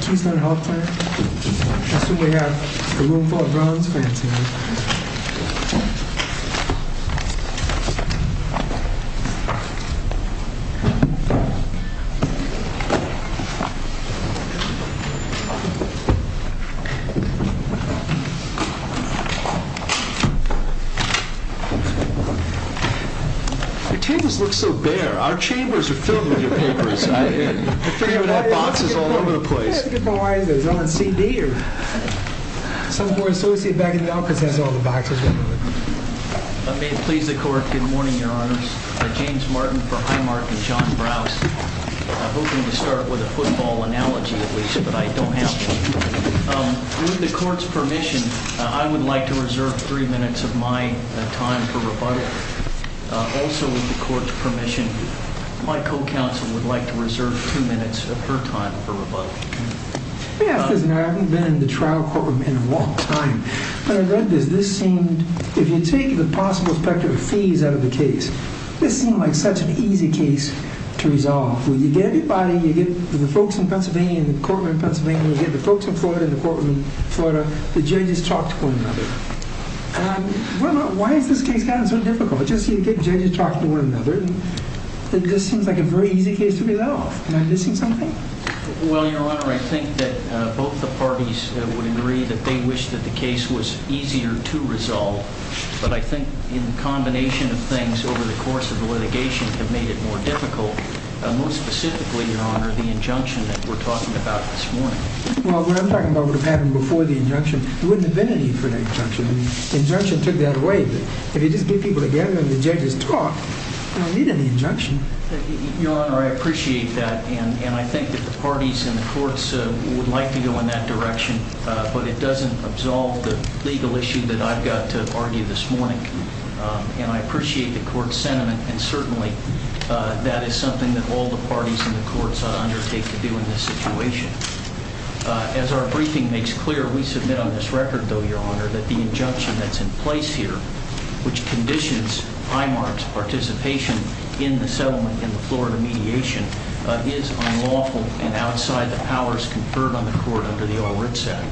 Keystone Health Plan. I assume we have a room full of bronze fans here. Your chambers look so bare. Our chambers are filled with your papers. I figure that box is all over the place. Is it John C.D. or some more associate back in the office that has all the boxes? May it please the court, good morning, your honors. I'm James Martin for Highmark and John Browse. I'm hoping to start with a football analogy at least, but I don't have one. With the court's permission, I would like to reserve three minutes of my time for rebuttal. Also with the court's permission, my co-counsel would like to reserve two minutes of her time for rebuttal. I haven't been in the trial courtroom in a long time, but I read this. This seemed, if you take the possible spectrum of fees out of the case, this seemed like such an easy case to resolve. When you get everybody, you get the folks in Pennsylvania and the courtmen in Pennsylvania, you get the folks in Florida and the courtmen in Florida, the judges talk to one another. Why has this case gotten so difficult? You get judges talking to one another. It just seems like a very easy case to resolve. Am I missing something? Well, your honor, I think that both the parties would agree that they wish that the case was easier to resolve, but I think in the combination of things over the course of the litigation have made it more difficult, most specifically, your honor, the injunction that we're talking about this morning. Well, what I'm talking about would have happened before the injunction. There wouldn't have been a need for an injunction. The injunction took that away, but if you just get people together and the judges talk, you don't need any injunction. Your honor, I appreciate that. And I think that the parties in the courts would like to go in that direction, but it doesn't absolve the legal issue that I've got to argue this morning. And I appreciate the court sentiment. And certainly that is something that all the parties in the courts undertake to do in this situation. As our briefing makes clear, we submit on this record, though, your honor, that the injunction that's in place here, which conditions IMARC's participation in the settlement in the Florida mediation, is unlawful and outside the powers conferred on the court under the All Writs Act.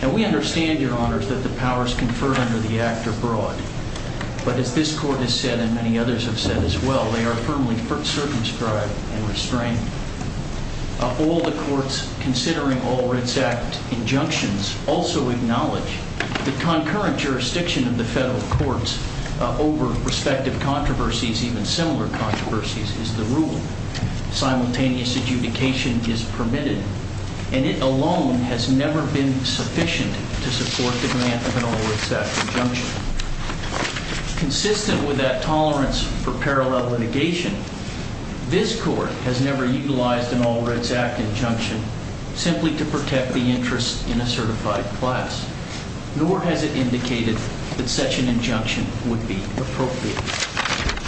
And we understand, your honor, that the powers conferred under the act are broad. But as this court has said and many others have said as well, they are firmly circumscribed and restrained. All the courts considering All Writs Act injunctions also acknowledge the concurrent jurisdiction of the federal courts over respective controversies, even similar controversies, is the rule. Simultaneous adjudication is permitted. And it alone has never been sufficient to support the grant of an All Writs Act injunction. Consistent with that tolerance for parallel litigation, this court has never utilized an All Writs Act injunction simply to protect the interest in a certified class. Nor has it indicated that such an injunction would be appropriate.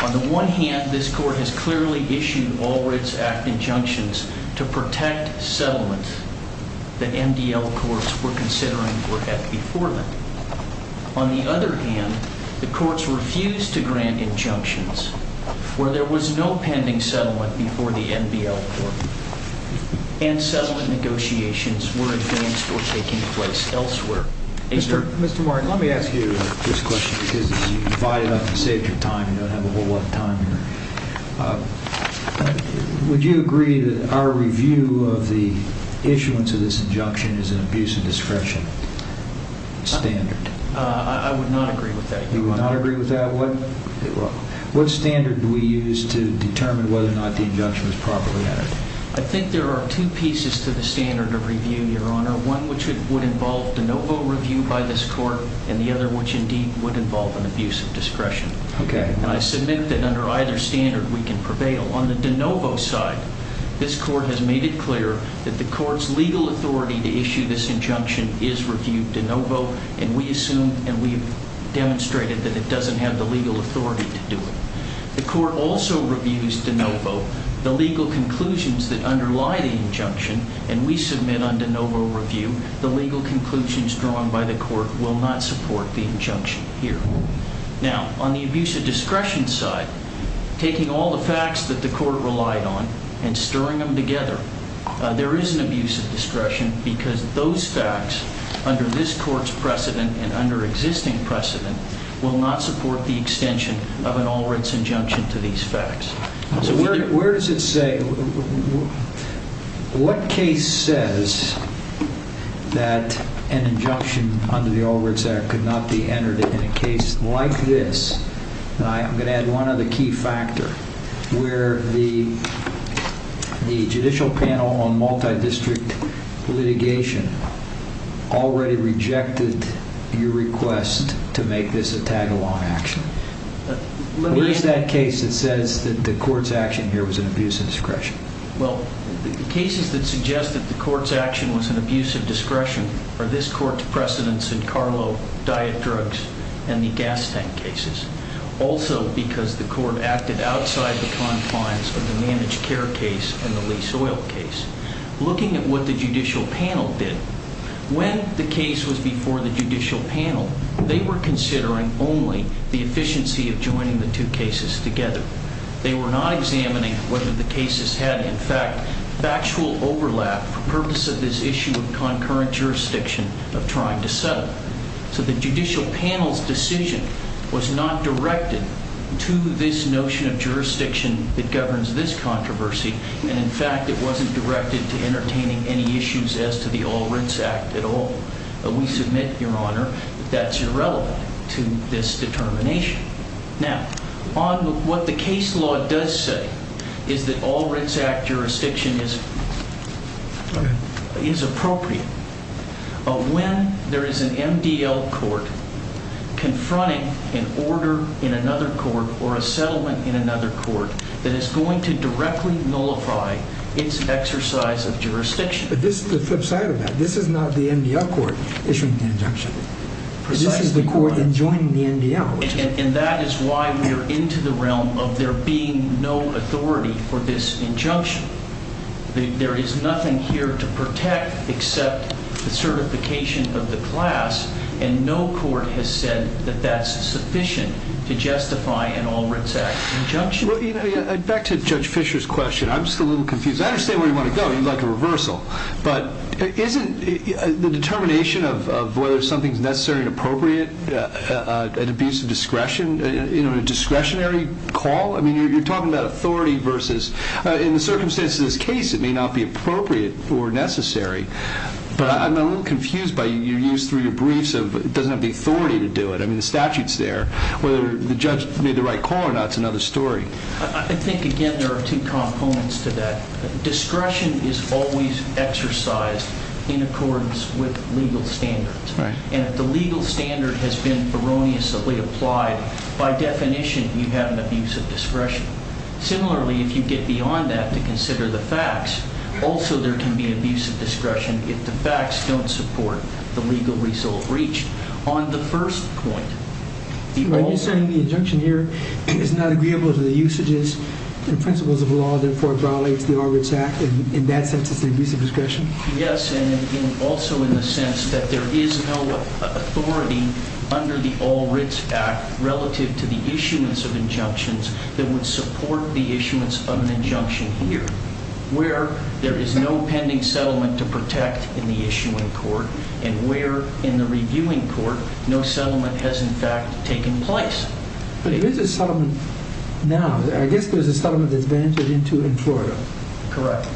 On the one hand, this court has clearly issued All Writs Act injunctions to protect settlement that MDL courts were considering or had before them. On the other hand, the courts refused to grant injunctions where there was no pending settlement before the MDL court. And settlement negotiations were advanced or taking place elsewhere. Mr. Martin, let me ask you this question because you can buy it up and save your time. You don't have a whole lot of time here. Would you agree that our review of the issuance of this injunction is an abuse of discretion standard? I would not agree with that, Your Honor. You would not agree with that? What standard do we use to determine whether or not the injunction was properly entered? I think there are two pieces to the standard of review, Your Honor. One which would involve the no vote review by this court and the other which indeed would involve an abuse of discretion. Okay. And I submit that under either standard we can prevail. On the de novo side, this court has made it clear that the court's legal authority to issue this injunction is reviewed de novo and we have demonstrated that it doesn't have the legal authority to do it. The court also reviews de novo the legal conclusions that underlie the injunction and we submit on de novo review the legal conclusions drawn by the court will not support the injunction here. Now, on the abuse of discretion side, taking all the facts that the court relied on and stirring them together, there is an abuse of discretion because those facts under this court's precedent and under existing precedent will not support the extension of an all-writs injunction to these facts. Where does it say, what case says that an injunction under the All-Writs Act could not be entered in a case like this? I'm going to add one other key factor where the Judicial Panel on Multidistrict Litigation already rejected your request to make this a tag-along action. Where is that case that says that the court's action here was an abuse of discretion? Well, the cases that suggest that the court's action was an abuse of discretion are this court's precedents in Carlo, diet drugs, and the gas tank cases. Also, because the court acted outside the confines of the managed care case and the lease oil case. Looking at what the Judicial Panel did, when the case was before the Judicial Panel, they were considering only the efficiency of joining the two cases together. They were not examining whether the cases had, in fact, factual overlap for purpose of this issue of concurrent jurisdiction of trying to settle. So the Judicial Panel's decision was not directed to this notion of jurisdiction that governs this controversy. And, in fact, it wasn't directed to entertaining any issues as to the All-Writs Act at all. We submit, Your Honor, that that's irrelevant to this determination. Now, on what the case law does say is that All-Writs Act jurisdiction is appropriate. When there is an MDL court confronting an order in another court or a settlement in another court, that is going to directly nullify its exercise of jurisdiction. But this is the flip side of that. This is not the MDL court issuing the injunction. This is the court enjoining the MDL. And that is why we are into the realm of there being no authority for this injunction. There is nothing here to protect except the certification of the class. And no court has said that that's sufficient to justify an All-Writs Act injunction. Back to Judge Fischer's question. I'm just a little confused. I understand where you want to go. You'd like a reversal. But isn't the determination of whether something is necessary and appropriate an abuse of discretion, a discretionary call? I mean, you're talking about authority versus, in the circumstances of this case, it may not be appropriate or necessary. But I'm a little confused by your use through your briefs of it doesn't have the authority to do it. I mean, the statute's there. Whether the judge made the right call or not is another story. I think, again, there are two components to that. Discretion is always exercised in accordance with legal standards. And if the legal standard has been erroneously applied, by definition, you have an abuse of discretion. Similarly, if you get beyond that to consider the facts, also there can be an abuse of discretion if the facts don't support the legal result reached. On the first point, people— Are you saying the injunction here is not agreeable to the usages and principles of law, therefore violates the All-Writs Act? In that sense, it's an abuse of discretion? Yes, and also in the sense that there is no authority under the All-Writs Act relative to the issuance of injunctions that would support the issuance of an injunction here, where there is no pending settlement to protect in the issuing court and where, in the reviewing court, no settlement has, in fact, taken place. But there is a settlement now. I guess there's a settlement that's been entered into in Florida. Correct.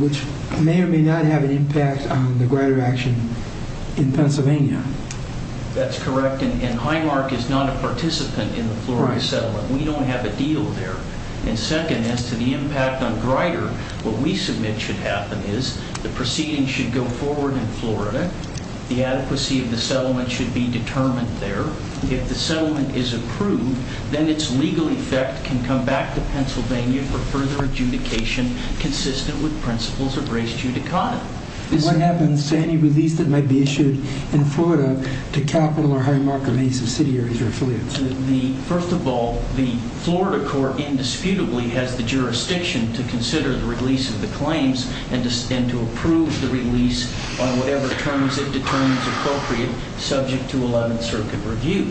Which may or may not have an impact on the Grider action in Pennsylvania. That's correct, and Highmark is not a participant in the Florida settlement. We don't have a deal there. And second, as to the impact on Grider, what we submit should happen is the proceedings should go forward in Florida. The adequacy of the settlement should be determined there. However, if the settlement is approved, then its legal effect can come back to Pennsylvania for further adjudication consistent with principles of res judicata. What happens to any release that might be issued in Florida to Capitol or Highmark or Mesa City areas or affiliates? First of all, the Florida court indisputably has the jurisdiction to consider the release of the claims and to approve the release on whatever terms it determines appropriate subject to 11th Circuit review.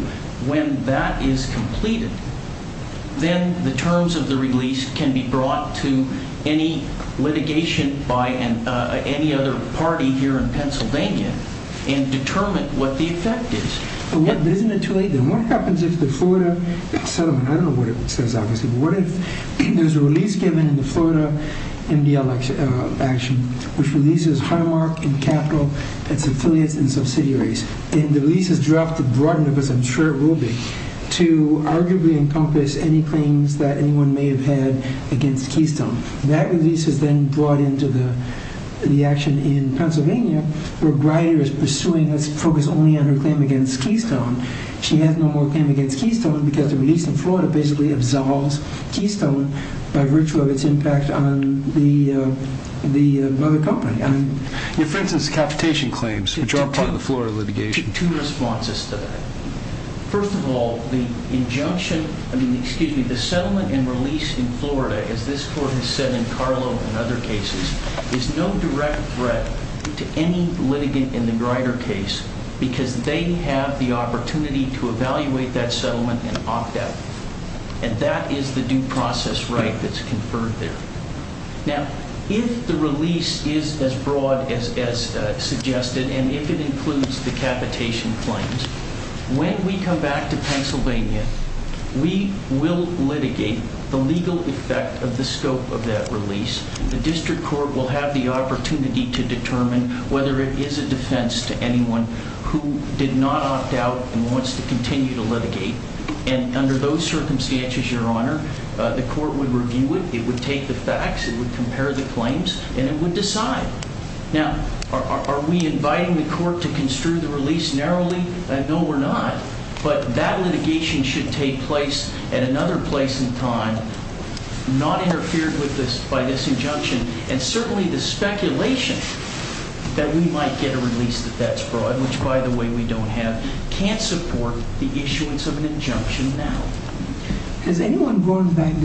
When that is completed, then the terms of the release can be brought to any litigation by any other party here in Pennsylvania and determine what the effect is. But isn't it too late then? What happens if the Florida settlement, I don't know what it says obviously, but what if there's a release given in the Florida MDL action which releases Highmark and Capitol and its affiliates and subsidiaries, and the release is dropped to broaden it, because I'm sure it will be, to arguably encompass any claims that anyone may have had against Keystone. That release is then brought into the action in Pennsylvania, where Greider is pursuing this focus only on her claim against Keystone. She has no more claim against Keystone because the release in Florida basically absolves Keystone by virtue of its impact on the other company. For instance, the capitation claims, which are part of the Florida litigation. First of all, the settlement and release in Florida, as this court has said in Carlo and other cases, is no direct threat to any litigant in the Greider case because they have the opportunity to evaluate that settlement and opt out. And that is the due process right that's conferred there. Now, if the release is as broad as suggested, and if it includes the capitation claims, when we come back to Pennsylvania, we will litigate the legal effect of the scope of that release. The district court will have the opportunity to determine whether it is a defense to anyone who did not opt out and wants to continue to litigate. And under those circumstances, Your Honor, the court would review it. It would take the facts, it would compare the claims, and it would decide. Now, are we inviting the court to construe the release narrowly? No, we're not. But that litigation should take place at another place in time, not interfered with by this injunction. And certainly the speculation that we might get a release that's broad, which, by the way, we don't have, can't support the issuance of an injunction now. Has anyone gone back to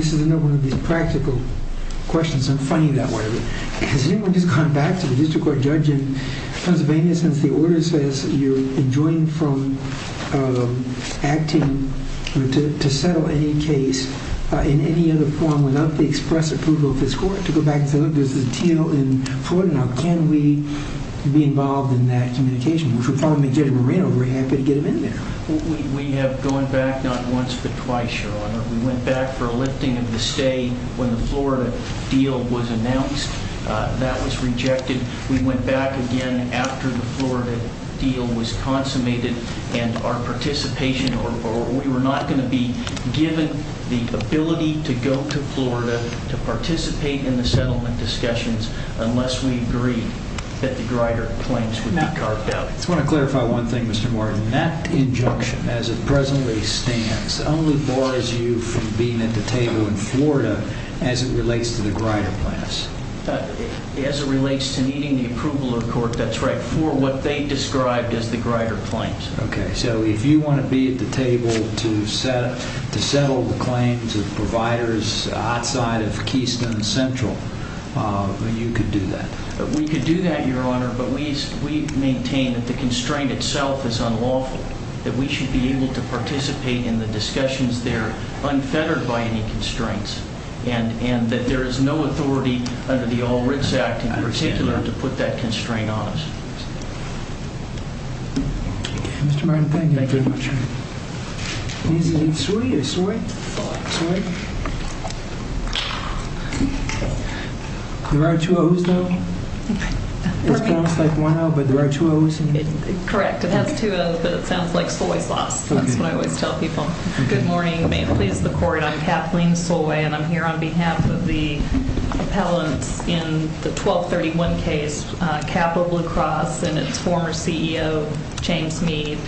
the district court judge in Pennsylvania since the order says you're enjoined from acting to settle any case in any other form without the express approval of this court to go back and say, look, there's a deal in Florida. Now, can we be involved in that communication? Which would probably make Judge Moreno very happy to get him in there. We have gone back not once but twice, Your Honor. We went back for a lifting of the stay when the Florida deal was announced. That was rejected. We went back again after the Florida deal was consummated. And our participation, or we were not going to be given the ability to go to Florida to participate in the settlement discussions unless we agreed that the Grider claims would be carved out. I just want to clarify one thing, Mr. Martin. That injunction, as it presently stands, only bars you from being at the table in Florida as it relates to the Grider plans. As it relates to needing the approval of court. That's right. For what they described as the Grider claims. Okay, so if you want to be at the table to settle the claims of providers outside of Keystone Central, you could do that. We could do that, Your Honor, but we maintain that the constraint itself is unlawful. That we should be able to participate in the discussions there unfettered by any constraints. And that there is no authority under the All Wrights Act in particular to put that constraint on us. Mr. Martin, thank you very much. Is it soy or soy? Soy. Soy? There are two O's, though? It sounds like one O, but there are two O's in there? Correct. It has two O's, but it sounds like soy sauce. That's what I always tell people. Good morning. May it please the court. I'm Kathleen Soy, and I'm here on behalf of the appellants in the 1231 case, Capital Blue Cross, and its former CEO, James Meade,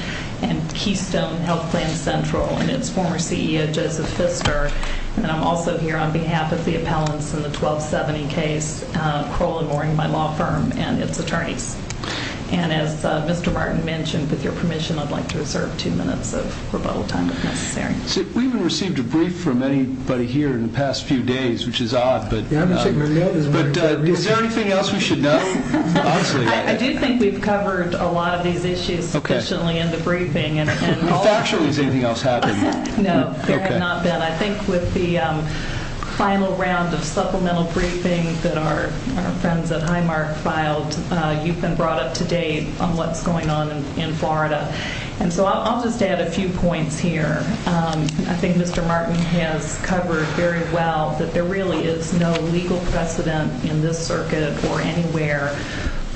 and Keystone Health Plan Central, and its former CEO, Joseph Pfister. And I'm also here on behalf of the appellants in the 1270 case, Crowley Mooring, my law firm, and its attorneys. And as Mr. Martin mentioned, with your permission, I'd like to reserve two minutes of rebuttal time if necessary. We haven't received a brief from anybody here in the past few days, which is odd, but is there anything else we should know? I do think we've covered a lot of these issues sufficiently in the briefing. Factually, has anything else happened? No, there have not been. I think with the final round of supplemental briefing that our friends at Highmark filed, you've been brought up to date on what's going on in Florida. And so I'll just add a few points here. I think Mr. Martin has covered very well that there really is no legal precedent in this circuit or anywhere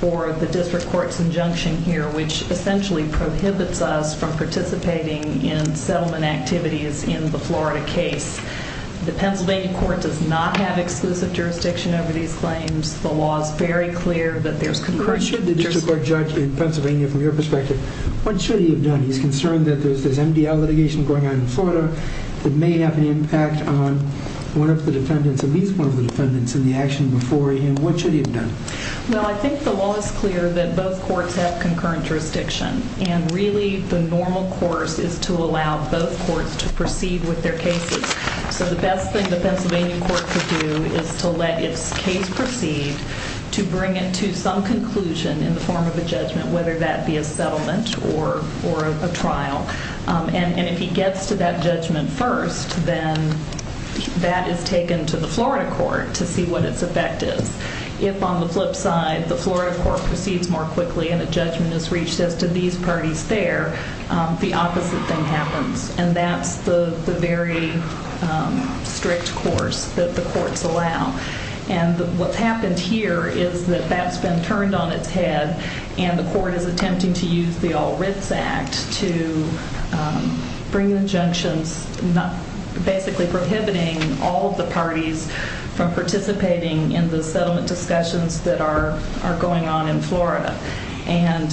for the district court's injunction here, which essentially prohibits us from participating in settlement activities in the Florida case. The Pennsylvania court does not have exclusive jurisdiction over these claims. The law is very clear that there's concursion. Should the district court judge in Pennsylvania, from your perspective, what should he have done? He's concerned that there's MDL litigation going on in Florida that may have an impact on one of the defendants, at least one of the defendants, in the action before him. What should he have done? Well, I think the law is clear that both courts have concurrent jurisdiction. And really, the normal course is to allow both courts to proceed with their cases. So the best thing the Pennsylvania court could do is to let its case proceed to bring it to some conclusion in the form of a judgment, whether that be a settlement or a trial. And if he gets to that judgment first, then that is taken to the Florida court to see what its effect is. If, on the flip side, the Florida court proceeds more quickly and a judgment is reached as to these parties there, the opposite thing happens. And that's the very strict course that the courts allow. And what's happened here is that that's been turned on its head, and the court is attempting to use the All Writs Act to bring injunctions, basically prohibiting all of the parties from participating in the settlement discussions that are going on in Florida. And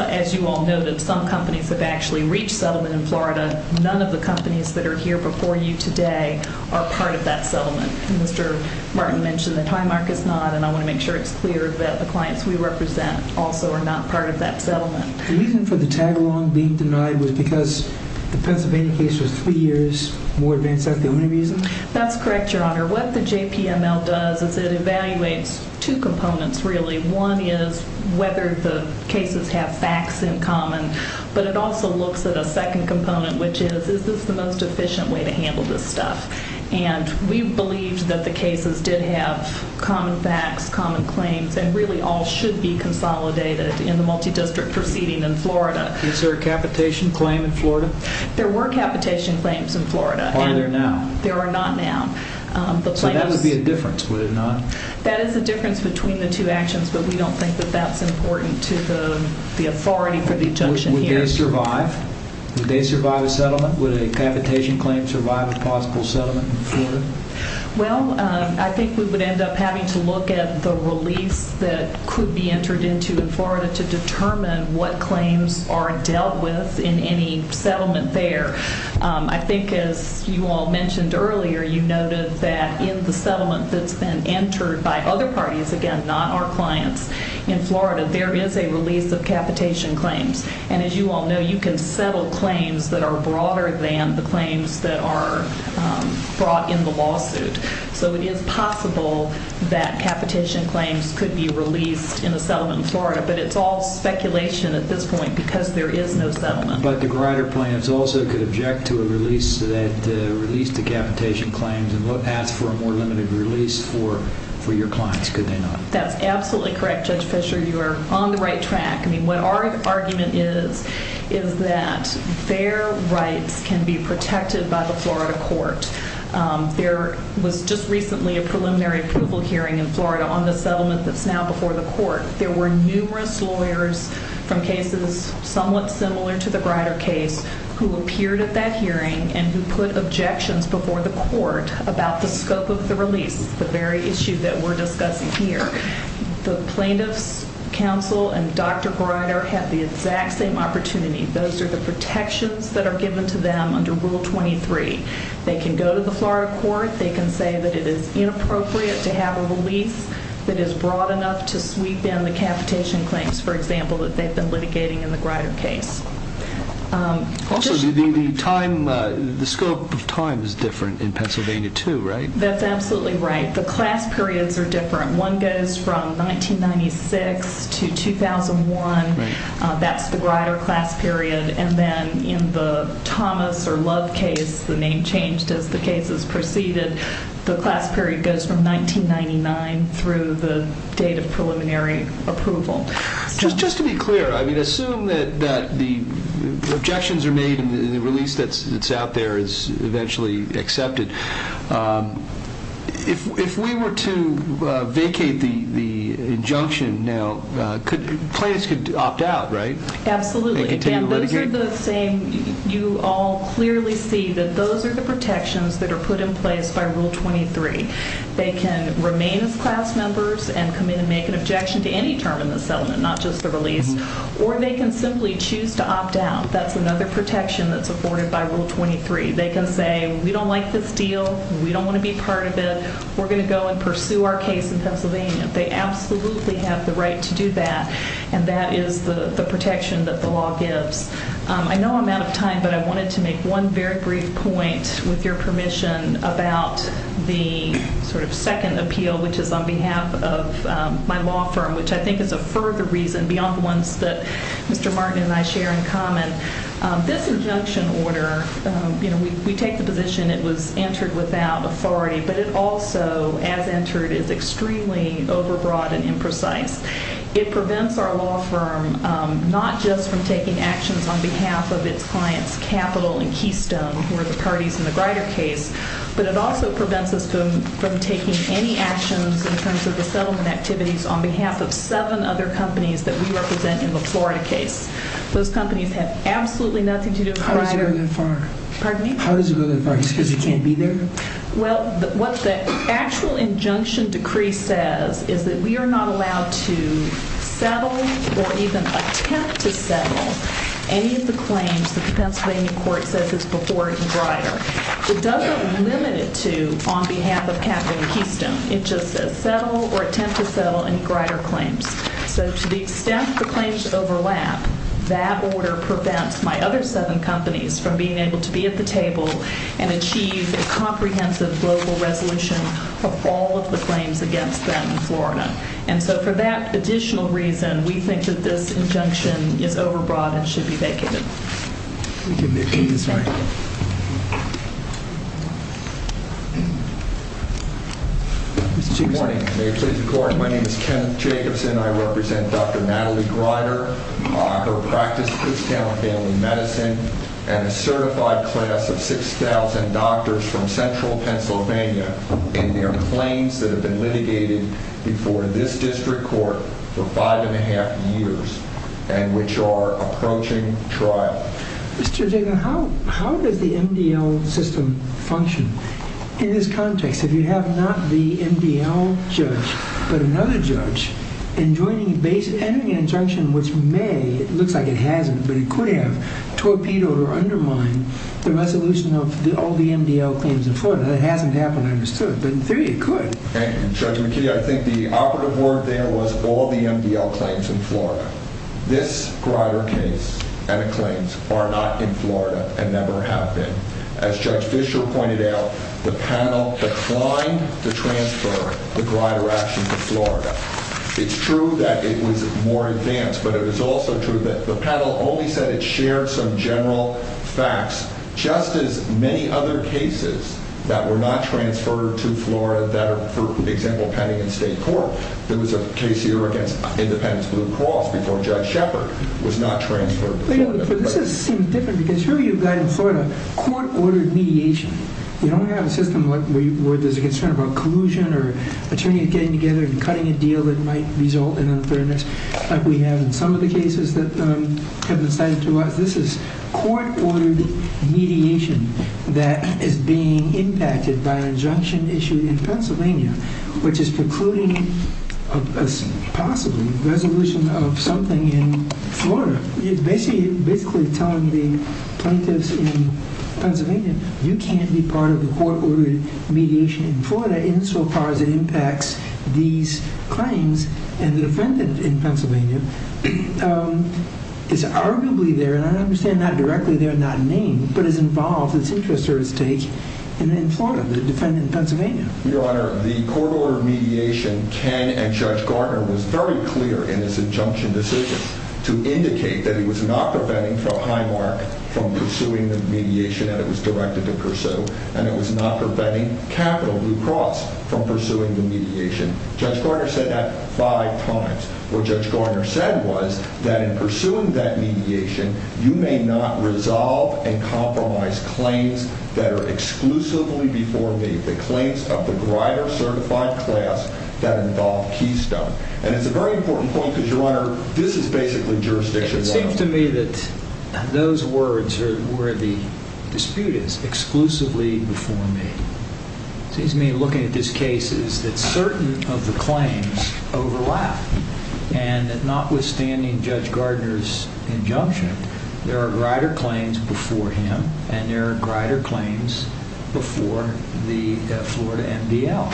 as you all know that some companies have actually reached settlement in Florida. None of the companies that are here before you today are part of that settlement. And Mr. Martin mentioned the time mark is not, and I want to make sure it's clear that the clients we represent also are not part of that settlement. The reason for the tag-along being denied was because the Pennsylvania case was three years more advanced. Is that the only reason? That's correct, Your Honor. What the JPML does is it evaluates two components, really. One is whether the cases have facts in common, but it also looks at a second component, which is is this the most efficient way to handle this stuff. And we believed that the cases did have common facts, common claims, and really all should be consolidated in the multidistrict proceeding in Florida. Is there a capitation claim in Florida? There were capitation claims in Florida. Are there now? There are not now. So that would be a difference, would it not? That is a difference between the two actions, but we don't think that that's important to the authority for the injunction here. Would they survive? Would they survive a settlement? Would a capitation claim survive a possible settlement in Florida? Well, I think we would end up having to look at the release that could be entered into in Florida to determine what claims are dealt with in any settlement there. I think as you all mentioned earlier, you noted that in the settlement that's been entered by other parties, again, not our clients in Florida, there is a release of capitation claims. And as you all know, you can settle claims that are broader than the claims that are brought in the lawsuit. So it is possible that capitation claims could be released in a settlement in Florida, but it's all speculation at this point because there is no settlement. But the Grider plaintiffs also could object to a release that released the capitation claims and ask for a more limited release for your clients, could they not? That's absolutely correct, Judge Fischer. You are on the right track. I mean, what our argument is is that their rights can be protected by the Florida court. There was just recently a preliminary approval hearing in Florida on the settlement that's now before the court. There were numerous lawyers from cases somewhat similar to the Grider case who appeared at that hearing and who put objections before the court about the scope of the release, the very issue that we're discussing here. The plaintiffs' counsel and Dr. Grider had the exact same opportunity. Those are the protections that are given to them under Rule 23. They can go to the Florida court. They can say that it is inappropriate to have a release that is broad enough to sweep in the capitation claims, for example, that they've been litigating in the Grider case. Also, the scope of time is different in Pennsylvania too, right? That's absolutely right. The class periods are different. One goes from 1996 to 2001. That's the Grider class period. And then in the Thomas or Love case, the name changed as the cases proceeded. The class period goes from 1999 through the date of preliminary approval. Just to be clear, I mean, assume that the objections are made and the release that's out there is eventually accepted. If we were to vacate the injunction now, plaintiffs could opt out, right? Absolutely. Again, those are the same. You all clearly see that those are the protections that are put in place by Rule 23. They can remain as class members and come in and make an objection to any term in the settlement, not just the release. Or they can simply choose to opt out. That's another protection that's afforded by Rule 23. They can say, we don't like this deal. We don't want to be part of it. We're going to go and pursue our case in Pennsylvania. They absolutely have the right to do that, and that is the protection that the law gives. I know I'm out of time, but I wanted to make one very brief point, with your permission, about the sort of second appeal, which is on behalf of my law firm, which I think is a further reason beyond the ones that Mr. Martin and I share in common. This injunction order, you know, we take the position it was entered without authority, but it also, as entered, is extremely overbroad and imprecise. It prevents our law firm not just from taking actions on behalf of its clients, Capital and Keystone, who are the parties in the Greider case, but it also prevents us from taking any actions in terms of the settlement activities on behalf of seven other companies that we represent in the Florida case. Those companies have absolutely nothing to do with Greider. How does it go that far? Pardon me? How does it go that far? Is it because it can't be there? Well, what the actual injunction decree says is that we are not allowed to settle or even attempt to settle any of the claims that the Pennsylvania court says is before Greider. It doesn't limit it to on behalf of Capital and Keystone. It just says settle or attempt to settle any Greider claims. So to the extent the claims overlap, that order prevents my other seven companies from being able to be at the table and achieve a comprehensive global resolution of all of the claims against them in Florida. And so for that additional reason, we think that this injunction is overbroad and should be vacated. Thank you. Thank you. Good morning. My name is Ken Jacobson. I represent Dr. Natalie Greider, her practice, Kutztown Family Medicine, and a certified class of 6,000 doctors from central Pennsylvania in their claims that have been litigated before this district court for five and a half years and which are approaching trial. Mr. Jacobson, how does the MDL system function in this context? If you have not the MDL judge but another judge enjoining a basic injunction, which may, it looks like it hasn't, but it could have, torpedoed or undermined the resolution of all the MDL claims in Florida. That hasn't happened, I understood. But in theory, it could. Thank you. Judge McKinney, I think the operative word there was all the MDL claims in Florida. This Greider case and the claims are not in Florida and never have been. As Judge Fischer pointed out, the panel declined to transfer the Greider action to Florida. It's true that it was more advanced, but it is also true that the panel only said it shared some general facts, just as many other cases that were not transferred to Florida that are, for example, pending in state court. There was a case here against Independence Blue Cross before Judge Shepard was not transferred to Florida. This seems different because here you've got in Florida court-ordered mediation. You don't have a system where there's a concern about collusion or attorney getting together and cutting a deal that might result in unfairness like we have in some of the cases that have been cited to us. This is court-ordered mediation that is being impacted by an injunction issued in Pennsylvania, which is precluding possibly resolution of something in Florida. It's basically telling the plaintiffs in Pennsylvania, you can't be part of the court-ordered mediation in Florida insofar as it impacts these claims. And the defendant in Pennsylvania is arguably there, and I understand not directly there, not named, but is involved, it's interest or its take, in Florida, the defendant in Pennsylvania. Your Honor, the court-ordered mediation, Ken and Judge Gardner was very clear in this injunction decision to indicate that it was not preventing Highmark from pursuing the mediation that it was directed to pursue. And it was not preventing Capitol Blue Cross from pursuing the mediation. Judge Gardner said that five times. What Judge Gardner said was that in pursuing that mediation, you may not resolve and compromise claims that are exclusively before me, the claims of the Grider-certified class that involve Keystone. And it's a very important point because, Your Honor, this is basically jurisdiction one. It seems to me that those words are where the dispute is, exclusively before me. It seems to me, looking at this case, is that certain of the claims overlap, and that notwithstanding Judge Gardner's injunction, there are Grider claims before him, and there are Grider claims before the Florida MDL.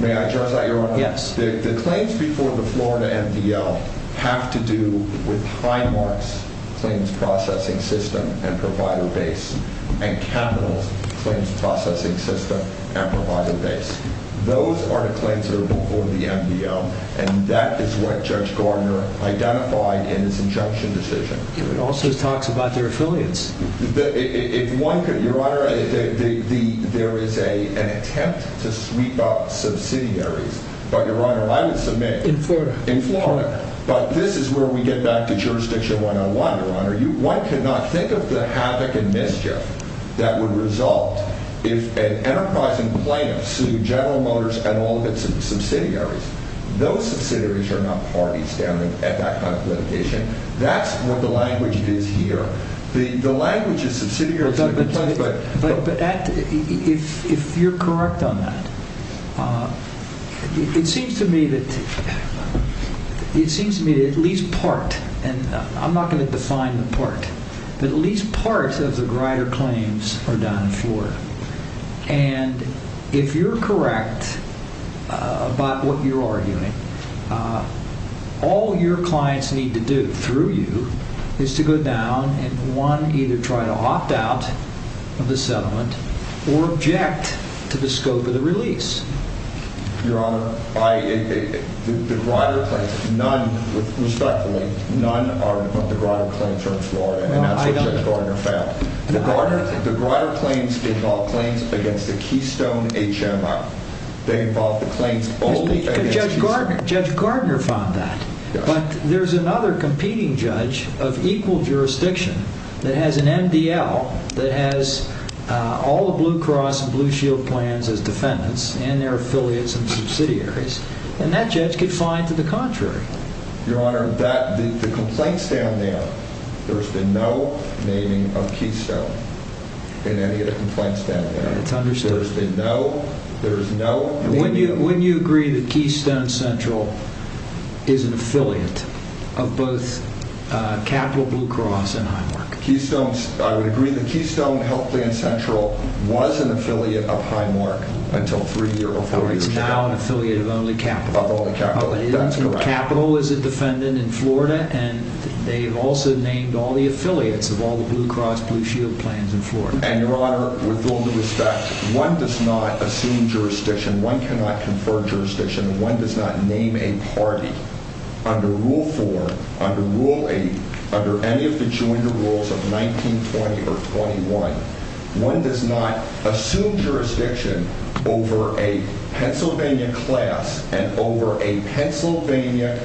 May I address that, Your Honor? Yes. The claims before the Florida MDL have to do with Highmark's claims processing system and provider base, and Capitol's claims processing system and provider base. Those are the claims that are before the MDL, and that is what Judge Gardner identified in his injunction decision. It also talks about their affiliates. Your Honor, there is an attempt to sweep up subsidiaries. But, Your Honor, I would submit— In Florida. In Florida. But this is where we get back to jurisdiction 101, Your Honor. One cannot think of the havoc and mischief that would result if an enterprising plaintiff sued General Motors and all of its subsidiaries. Those subsidiaries are not parties down at that kind of litigation. That's what the language is here. The language is that subsidiaries have been pledged by— But if you're correct on that, it seems to me that at least part—and I'm not going to define the part—but at least part of the Grider claims are done in Florida. And if you're correct about what you're arguing, all your clients need to do through you is to go down and, one, either try to opt out of the settlement or object to the scope of the release. Your Honor, the Grider claims—none, respectfully, none of the Grider claims are in Florida. And that's what Judge Gardner found. The Grider claims involve claims against the Keystone HMI. They involve the claims— But Judge Gardner found that. But there's another competing judge of equal jurisdiction that has an MDL that has all the Blue Cross and Blue Shield plans as defendants and their affiliates and subsidiaries. And that judge could find to the contrary. Your Honor, that—the complaints down there, there's been no naming of Keystone in any of the complaints down there. That's understood. There's been no—there's no— And wouldn't you agree that Keystone Central is an affiliate of both Capital Blue Cross and Heimark? Keystone—I would agree that Keystone Health Plan Central was an affiliate of Heimark until three years ago. It's now an affiliate of only Capital. Of only Capital, that's correct. Capital is a defendant in Florida, and they've also named all the affiliates of all the Blue Cross Blue Shield plans in Florida. And, Your Honor, with all due respect, one does not assume jurisdiction. One cannot confer jurisdiction. One does not name a party under Rule 4, under Rule 8, under any of the joint rules of 1920 or 21. One does not assume jurisdiction over a Pennsylvania class and over a Pennsylvania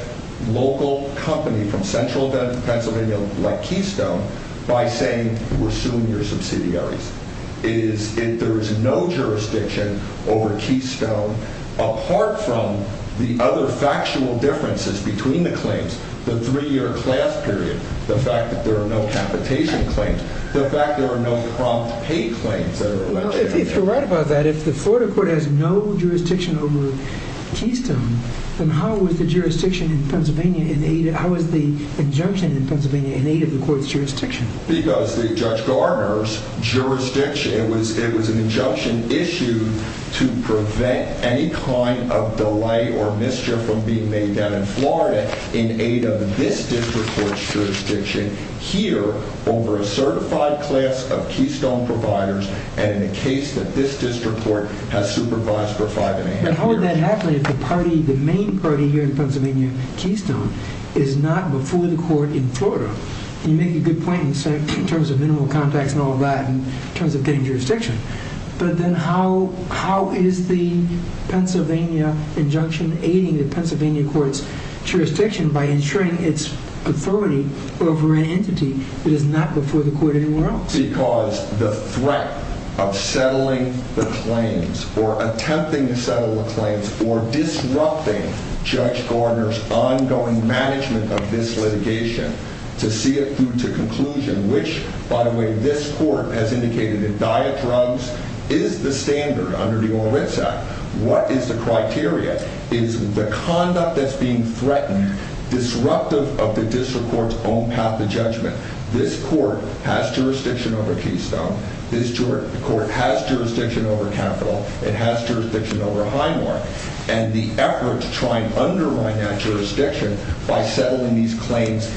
local company from Central Pennsylvania like Keystone by saying, you assume your subsidiaries. It is—there is no jurisdiction over Keystone apart from the other factual differences between the claims, the three-year class period, the fact that there are no capitation claims, the fact that there are no prompt pay claims that are— Well, if you're right about that, if the Florida court has no jurisdiction over Keystone, then how is the jurisdiction in Pennsylvania in aid—how is the injunction in Pennsylvania in aid of the court's jurisdiction? Because the Judge Garner's jurisdiction—it was an injunction issued to prevent any kind of delay or mischief from being made down in Florida in aid of this district court's jurisdiction here over a certified class of Keystone providers and in a case that this district court has supervised for five and a half years. But how would that happen if the party, the main party here in Pennsylvania, Keystone, is not before the court in Florida? You make a good point in terms of minimal contacts and all that, in terms of getting jurisdiction. But then how is the Pennsylvania injunction aiding the Pennsylvania court's jurisdiction by ensuring its authority over an entity that is not before the court anywhere else? Because the threat of settling the claims or attempting to settle the claims or disrupting Judge Garner's ongoing management of this litigation to see it through to conclusion, which, by the way, this court has indicated that diet drugs is the standard under the Oral Rits Act. What is the criteria? Is the conduct that's being threatened disruptive of the district court's own path to judgment? This court has jurisdiction over Keystone. This court has jurisdiction over Capital. It has jurisdiction over Highmore. And the effort to try and undermine that jurisdiction by settling these claims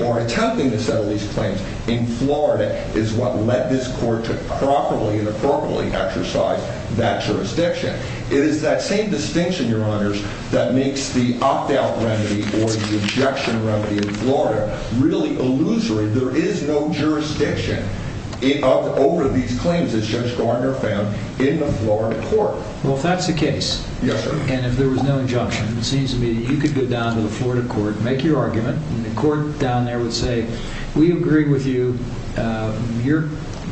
or attempting to settle these claims in Florida is what led this court to properly and appropriately exercise that jurisdiction. It is that same distinction, Your Honors, that makes the opt-out remedy or the injection remedy in Florida really illusory. There is no jurisdiction over these claims as Judge Garner found in the Florida court. Well, if that's the case, and if there was no injunction, it seems to me that you could go down to the Florida court, make your argument, and the court down there would say, We agree with you.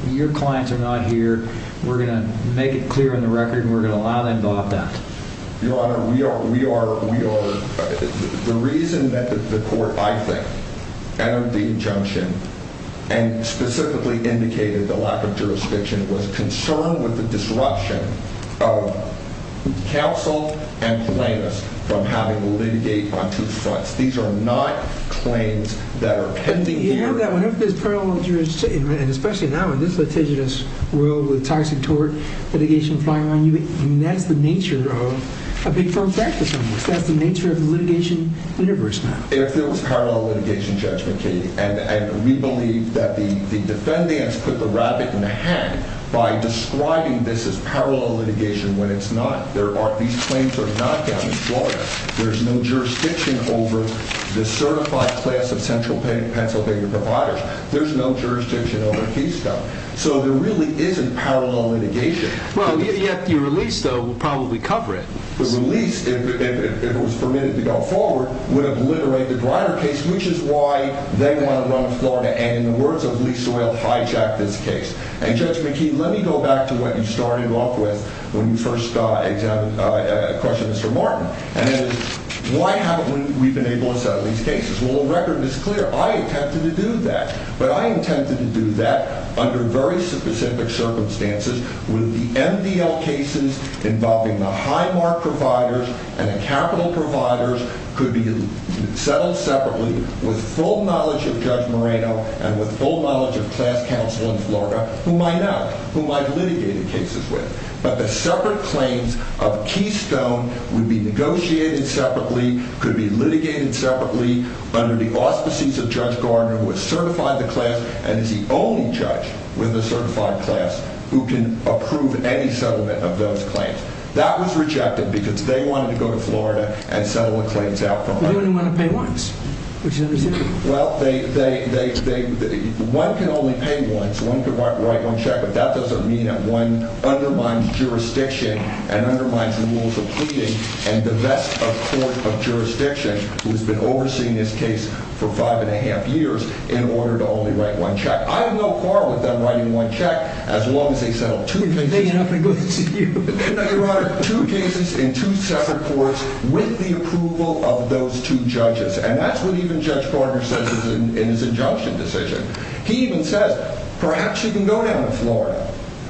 Your clients are not here. We're going to make it clear on the record, and we're going to allow them to opt out. Your Honor, the reason that the court, I think, entered the injunction and specifically indicated the lack of jurisdiction was concerned with the disruption of counsel and plaintiffs from having to litigate on two fronts. These are not claims that are pending here. But remember that whenever there's parallel jurisdiction, and especially now in this litigious world with toxic tort litigation flying around, that's the nature of a big firm practice almost. That's the nature of the litigation universe now. If there was parallel litigation, Judge McKee, and we believe that the defendants put the rabbit in the hat by describing this as parallel litigation when it's not. These claims are not down in Florida. There's no jurisdiction over the certified class of Central Pennsylvania providers. There's no jurisdiction over Keystone. So there really isn't parallel litigation. Well, yet the release, though, would probably cover it. The release, if it was permitted to go forward, would obliterate the Greiner case, which is why they want to run with Florida and, in the words of Lee Soyle, hijack this case. And Judge McKee, let me go back to what you started off with when you first questioned Mr. Martin. And it is, why haven't we been able to settle these cases? Well, the record is clear. I attempted to do that. But I intended to do that under very specific circumstances with the MDL cases involving the high mark providers and the capital providers could be settled separately with full knowledge of Judge Moreno and with full knowledge of class counsel in Florida, who might not, who might litigate the cases with. But the separate claims of Keystone would be negotiated separately, could be litigated separately under the auspices of Judge Garner, who has certified the class and is the only judge with a certified class who can approve any settlement of those claims. That was rejected because they wanted to go to Florida and settle the claims out. You only want to pay once, which is understandable. Well, they, they, they, they, one can only pay once. One could write one check. But that doesn't mean that one undermines jurisdiction and undermines the rules of pleading. And the best of court of jurisdiction, who has been overseeing this case for five and a half years in order to only write one check. I have no quarrel with them writing one check as long as they settle two cases. If it's big enough, I go to see you. Your Honor, two cases in two separate courts with the approval of those two judges. And that's what even Judge Garner says in his injunction decision. He even says, perhaps you can go down to Florida.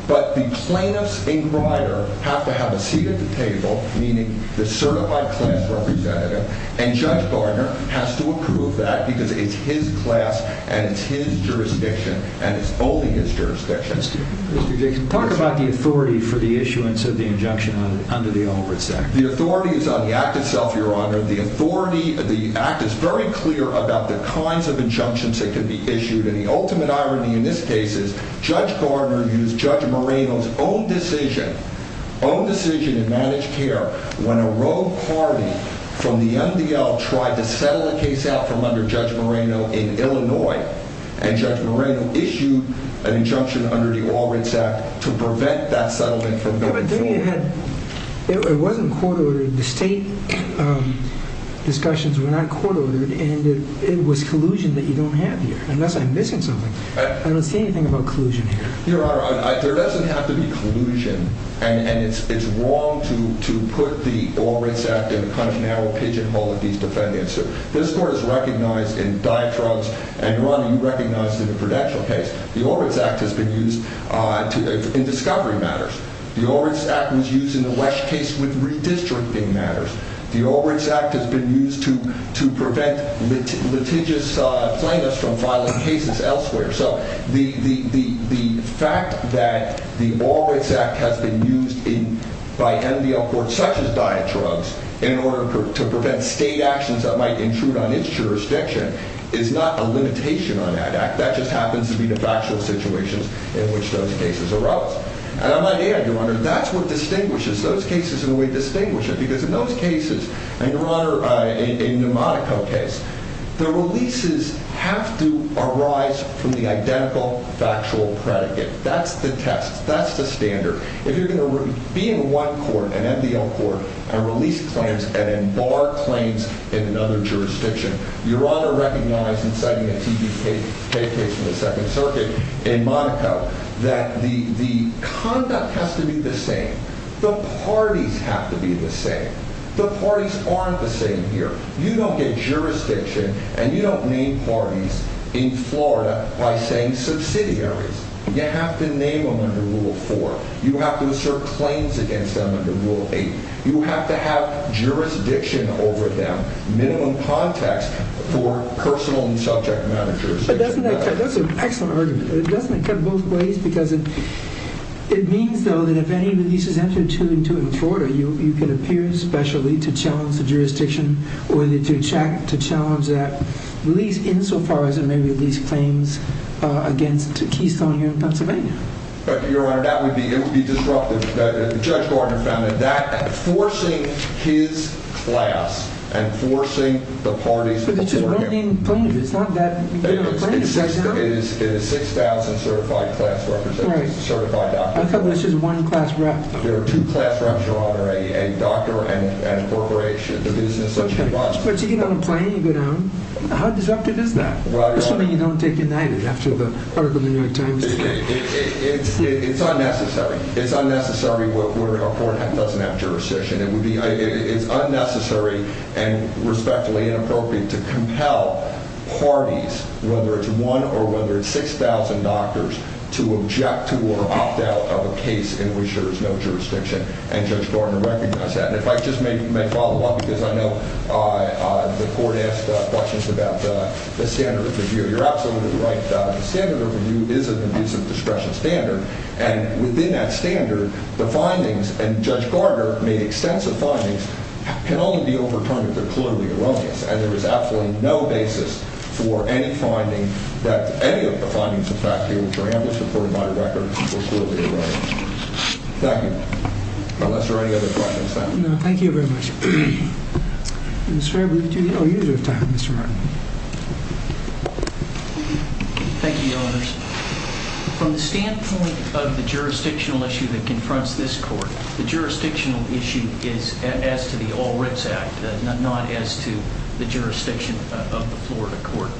But the plaintiff's inquirer have to have a seat at the table, meaning the certified class representative. And Judge Garner has to approve that because it's his class and it's his jurisdiction and it's only his jurisdiction. Mr. Jacobs, talk about the authority for the issuance of the injunction under the Albrecht Act. The authority is on the act itself, Your Honor. The authority of the act is very clear about the kinds of injunctions that can be issued. And the ultimate irony in this case is Judge Garner used Judge Moreno's own decision, own decision in managed care, when a rogue party from the MDL tried to settle a case out from under Judge Moreno in Illinois. And Judge Moreno issued an injunction under the Albrecht Act to prevent that settlement from going forward. It wasn't court ordered. The state discussions were not court ordered. And it was collusion that you don't have here. Unless I'm missing something. I don't see anything about collusion here. Your Honor, there doesn't have to be collusion. And it's wrong to put the Albrecht Act in a kind of narrow pigeonhole with these defendants. This court is recognized in diatrugs. And, Your Honor, you recognize it in the Prudential case. The Albrecht Act has been used in discovery matters. The Albrecht Act was used in the Wesch case with redistricting matters. The Albrecht Act has been used to prevent litigious plaintiffs from filing cases elsewhere. So the fact that the Albrecht Act has been used by MDL courts, such as diatrugs, in order to prevent state actions that might intrude on its jurisdiction is not a limitation on that act. That just happens to be the factual situation in which those cases arose. And I might add, Your Honor, that's what distinguishes those cases the way we distinguish them. Because in those cases, and, Your Honor, in the Monaco case, the releases have to arise from the identical factual predicate. That's the test. That's the standard. If you're going to be in one court, an MDL court, and release claims and then bar claims in another jurisdiction, Your Honor recognizes, citing a TBK case from the Second Circuit in Monaco, that the conduct has to be the same. The parties have to be the same. The parties aren't the same here. You don't get jurisdiction, and you don't name parties in Florida by saying subsidiaries. You have to name them under Rule 4. You have to assert claims against them under Rule 8. You have to have jurisdiction over them. You have to have minimum context for personal and subject matter jurisdiction. But doesn't that cut? That's an excellent argument. Doesn't it cut both ways? Because it means, though, that if any release is entered to and to in Florida, you can appear specially to challenge the jurisdiction or to challenge that release insofar as it may release claims against Keystone here in Pennsylvania. But, Your Honor, that would be disruptive. Judge Gardner found that forcing his class and forcing the parties before him. But it's just one named plaintiff. It's not that many plaintiffs. It is 6,000 certified class representatives, certified doctors. I thought this was one class rep. There are two class reps, Your Honor, a doctor and a corporation. The business as it was. But you get on a plane, you go down. How disruptive is that? Well, Your Honor. It's something you don't take at night after the article in the New York Times. It's unnecessary. It's unnecessary where a court doesn't have jurisdiction. It's unnecessary and respectfully inappropriate to compel parties, whether it's one or whether it's 6,000 doctors, to object to or opt out of a case in which there is no jurisdiction. And Judge Gardner recognized that. And if I just may follow up because I know the court asked questions about the standard of review. You're absolutely right. The standard of review is an abusive discretion standard. And within that standard, the findings, and Judge Gardner made extensive findings, can only be overturned if they're clearly erroneous. And there is absolutely no basis for any finding that any of the findings, in fact, here in Paramus, according to my record, were clearly erroneous. Thank you. Unless there are any other questions. Thank you. No, thank you very much. Mr. Fairbanks, do you have time, Mr. Martin? Thank you, Your Honor. From the standpoint of the jurisdictional issue that confronts this court, the jurisdictional issue is as to the All Writs Act, not as to the jurisdiction of the Florida court.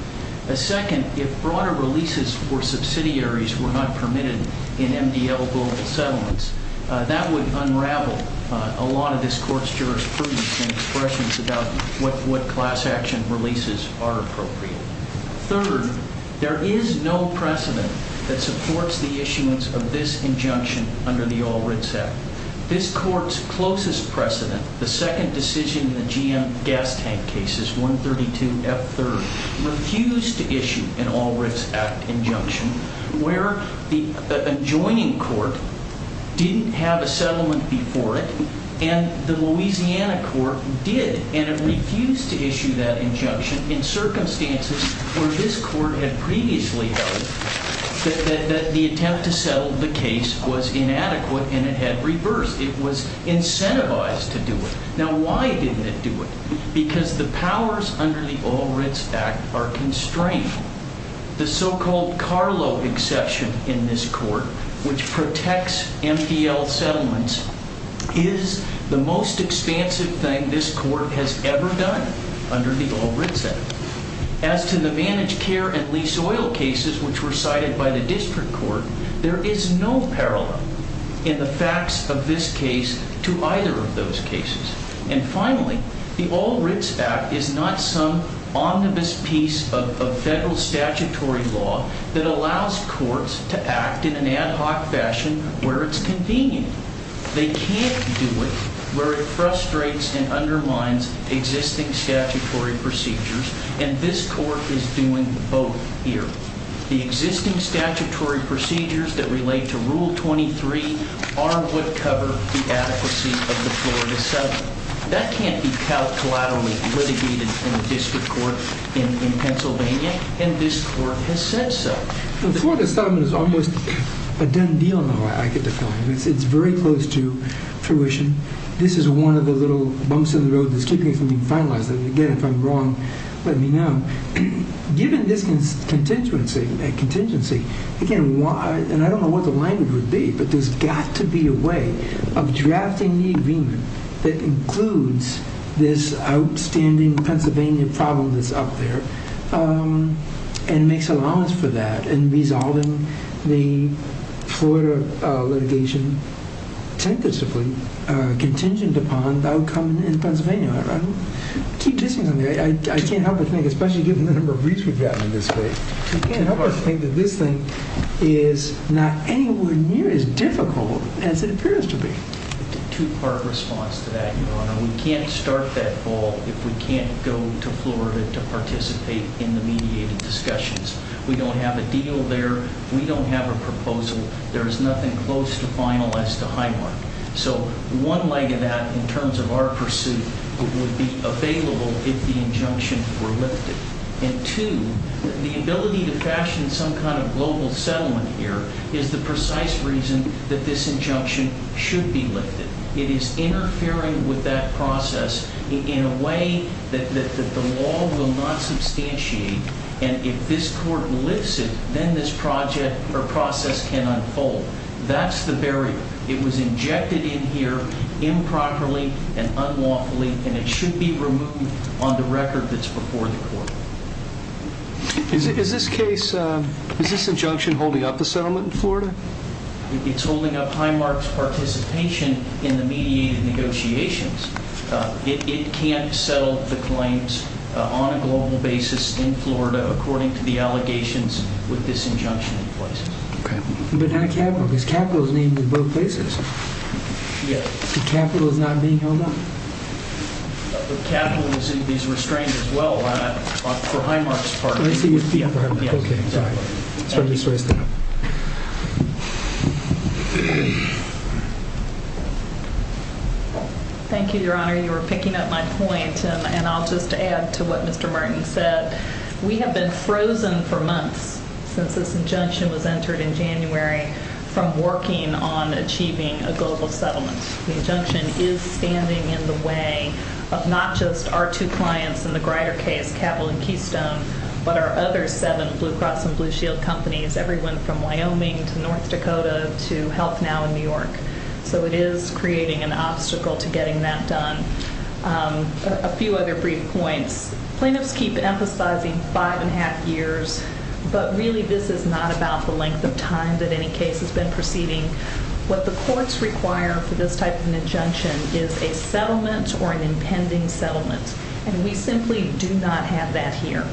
Second, if broader releases for subsidiaries were not permitted in MDL global settlements, that would unravel a lot of this court's jurisprudence and expressions about what class action releases are appropriate. Third, there is no precedent that supports the issuance of this injunction under the All Writs Act. This court's closest precedent, the second decision in the GM gas tank cases, 132F3rd, refused to issue an All Writs Act injunction where the adjoining court didn't have a settlement before it, and the Louisiana court did, and it refused to issue that injunction in circumstances where this court had previously held that the attempt to settle the case was inadequate and it had reversed. It was incentivized to do it. Now, why didn't it do it? Because the powers under the All Writs Act are constrained. The so-called Carlo exception in this court, which protects MDL settlements, is the most expansive thing this court has ever done under the All Writs Act. As to the managed care and lease oil cases which were cited by the district court, there is no parallel in the facts of this case to either of those cases. And finally, the All Writs Act is not some omnibus piece of federal statutory law that allows courts to act in an ad hoc fashion where it's convenient. They can't do it where it frustrates and undermines existing statutory procedures, and this court is doing both here. The existing statutory procedures that relate to Rule 23 are what cover the adequacy of the Florida settlement. That can't be collaterally litigated in a district court in Pennsylvania, and this court has said so. The Florida settlement is almost a done deal in the way I could define it. It's very close to fruition. This is one of the little bumps in the road that's keeping it from being finalized. And again, if I'm wrong, let me know. Given this contingency, and I don't know what the language would be, but there's got to be a way of drafting the agreement that includes this outstanding Pennsylvania problem that's up there and makes allowance for that in resolving the Florida litigation tentatively contingent upon the outcome in Pennsylvania. I can't help but think, especially given the number of briefs we've gotten in this case, I can't help but think that this thing is not anywhere near as difficult as it appears to be. It's a two-part response to that, Your Honor. We can't start that ball if we can't go to Florida to participate in the mediated discussions. We don't have a deal there. We don't have a proposal. There is nothing close to final as to Highmark. So one leg of that, in terms of our pursuit, would be available if the injunction were lifted. And two, the ability to fashion some kind of global settlement here is the precise reason that this injunction should be lifted. It is interfering with that process in a way that the law will not substantiate. And if this court lifts it, then this process can unfold. That's the barrier. It was injected in here improperly and unlawfully, and it should be removed on the record that's before the court. Is this case, is this injunction holding up the settlement in Florida? It's holding up Highmark's participation in the mediated negotiations. It can't settle the claims on a global basis in Florida according to the allegations with this injunction in place. Okay. But not capital, because capital is needed in both places. Yes. Capital is not being held up. But capital is in these restraints as well on Highmark's part. Let me see your feet for a moment. Okay. Sorry. Thank you, Your Honor. You were picking up my point, and I'll just add to what Mr. Martin said. We have been frozen for months since this injunction was entered in January from working on achieving a global settlement. The injunction is standing in the way of not just our two clients in the Grider case, Cabell and Keystone, but our other seven Blue Cross and Blue Shield companies, everyone from Wyoming to North Dakota to HealthNow in New York. So it is creating an obstacle to getting that done. A few other brief points. Plaintiffs keep emphasizing five and a half years, but really this is not about the length of time that any case has been proceeding. What the courts require for this type of an injunction is a settlement or an impending settlement. And we simply do not have that here.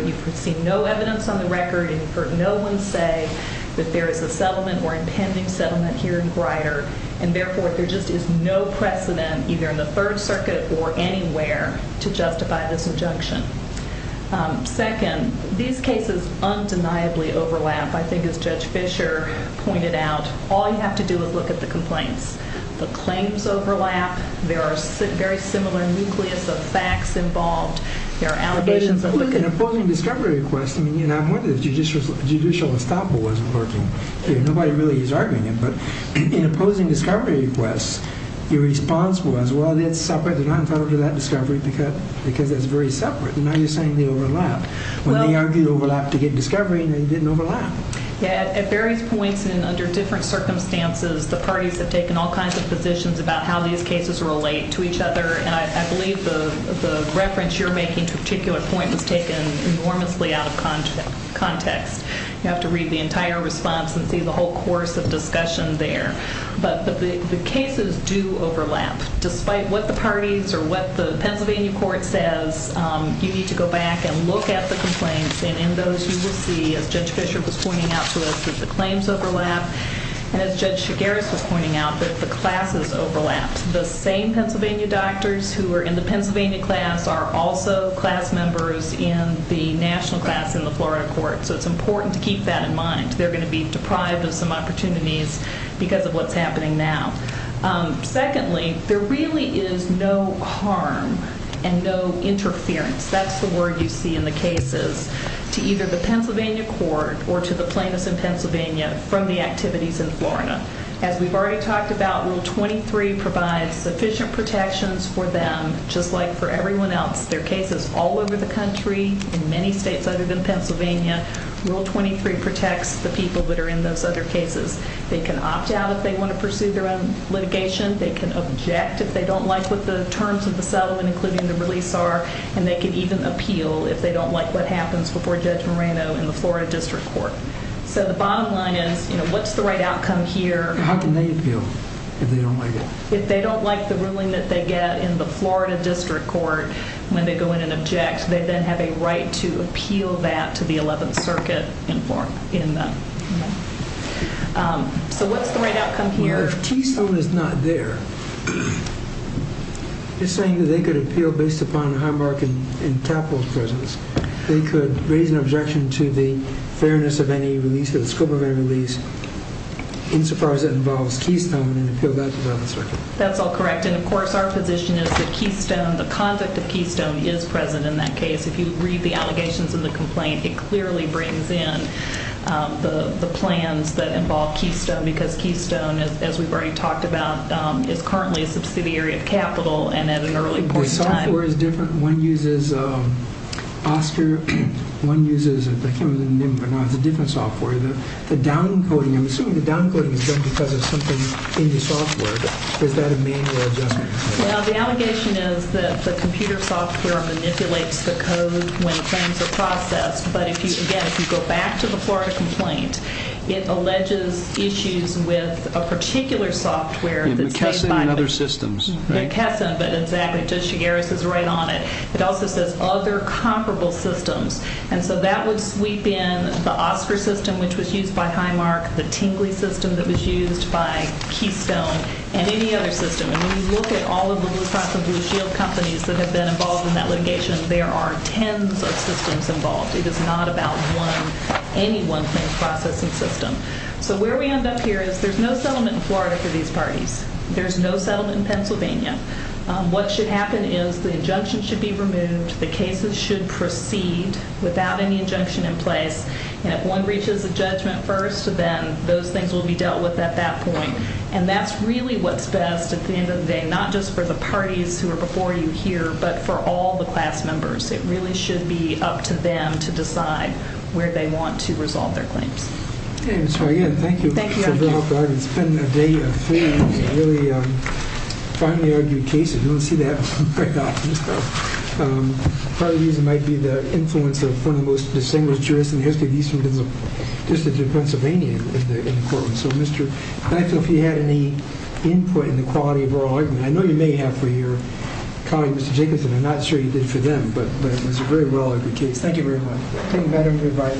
You've seen no evidence on the record, and you've heard no one say that there is a settlement or impending settlement here in Grider. And therefore, there just is no precedent, either in the Third Circuit or anywhere, to justify this injunction. Second, these cases undeniably overlap. I think as Judge Fischer pointed out, all you have to do is look at the complaints. The claims overlap. There are very similar nucleus of facts involved. There are allegations of the complaint. In opposing discovery requests, I mean, you know, I wonder if judicial estoppel wasn't working. Nobody really is arguing it, but in opposing discovery requests, your response was, well, that's separate. They're not entitled to that discovery because it's very separate. And now you're saying they overlap. When they argued overlap to get discovery, they didn't overlap. At various points and under different circumstances, the parties have taken all kinds of positions about how these cases relate to each other. And I believe the reference you're making to a particular point was taken enormously out of context. You have to read the entire response and see the whole course of discussion there. But the cases do overlap. Despite what the parties or what the Pennsylvania court says, you need to go back and look at the complaints. And in those, you will see, as Judge Fischer was pointing out to us, that the claims overlap. And as Judge Chigueras was pointing out, that the classes overlap. The same Pennsylvania doctors who are in the Pennsylvania class are also class members in the national class in the Florida court. So it's important to keep that in mind. They're going to be deprived of some opportunities because of what's happening now. Secondly, there really is no harm and no interference, that's the word you see in the cases, to either the Pennsylvania court or to the plaintiffs in Pennsylvania from the activities in Florida. As we've already talked about, Rule 23 provides sufficient protections for them just like for everyone else. There are cases all over the country, in many states other than Pennsylvania. Rule 23 protects the people that are in those other cases. They can opt out if they want to pursue their own litigation. They can object if they don't like what the terms of the settlement, including the release, are. And they can even appeal if they don't like what happens before Judge Moreno in the Florida district court. So the bottom line is, you know, what's the right outcome here? How can they appeal if they don't like it? If they don't like the ruling that they get in the Florida district court, when they go in and object, they then have a right to appeal that to the Eleventh Circuit in Florida. So what's the right outcome here? Well, if Keystone is not there, it's saying that they could appeal based upon Highmark and Tapple's presence. They could raise an objection to the fairness of any release, to the scope of any release, insofar as it involves Keystone and appeal that to the Eleventh Circuit. That's all correct. And, of course, our position is that Keystone, the conduct of Keystone, is present in that case. If you read the allegations in the complaint, it clearly brings in the plans that involve Keystone, because Keystone, as we've already talked about, is currently a subsidiary of Capital and at an early point in time. The software is different. One uses OSCR. One uses a different software. The downcoding, I'm assuming the downcoding is done because of something in the software. Is that a manual adjustment? Well, the allegation is that the computer software manipulates the code when claims are processed. But, again, if you go back to the Florida complaint, it alleges issues with a particular software. McKesson and other systems, right? McKesson, but exactly. It also says other comparable systems. And so that would sweep in the OSCR system, which was used by Highmark, the Tingley system that was used by Keystone, and any other system. And when you look at all of the Blue Cross and Blue Shield companies that have been involved in that litigation, there are tens of systems involved. It is not about one, any one thing processing system. So where we end up here is there's no settlement in Florida for these parties. There's no settlement in Pennsylvania. What should happen is the injunction should be removed. The cases should proceed without any injunction in place. And if one reaches a judgment first, then those things will be dealt with at that point. And that's really what's best at the end of the day, not just for the parties who are before you here, but for all the class members. It really should be up to them to decide where they want to resolve their claims. Again, thank you. Thank you. It's been a day of really finely argued cases. You don't see that very often. Part of the reason might be the influence of one of the most distinguished jurists in the history of Eastern Pennsylvania in Portland. So I'd like to know if you had any input in the quality of oral argument. I know you may have for your colleague, Mr. Jacobson. I'm not sure you did for them, but it was a very well-argued case. Thank you very much. Thank you, Madam Reverend.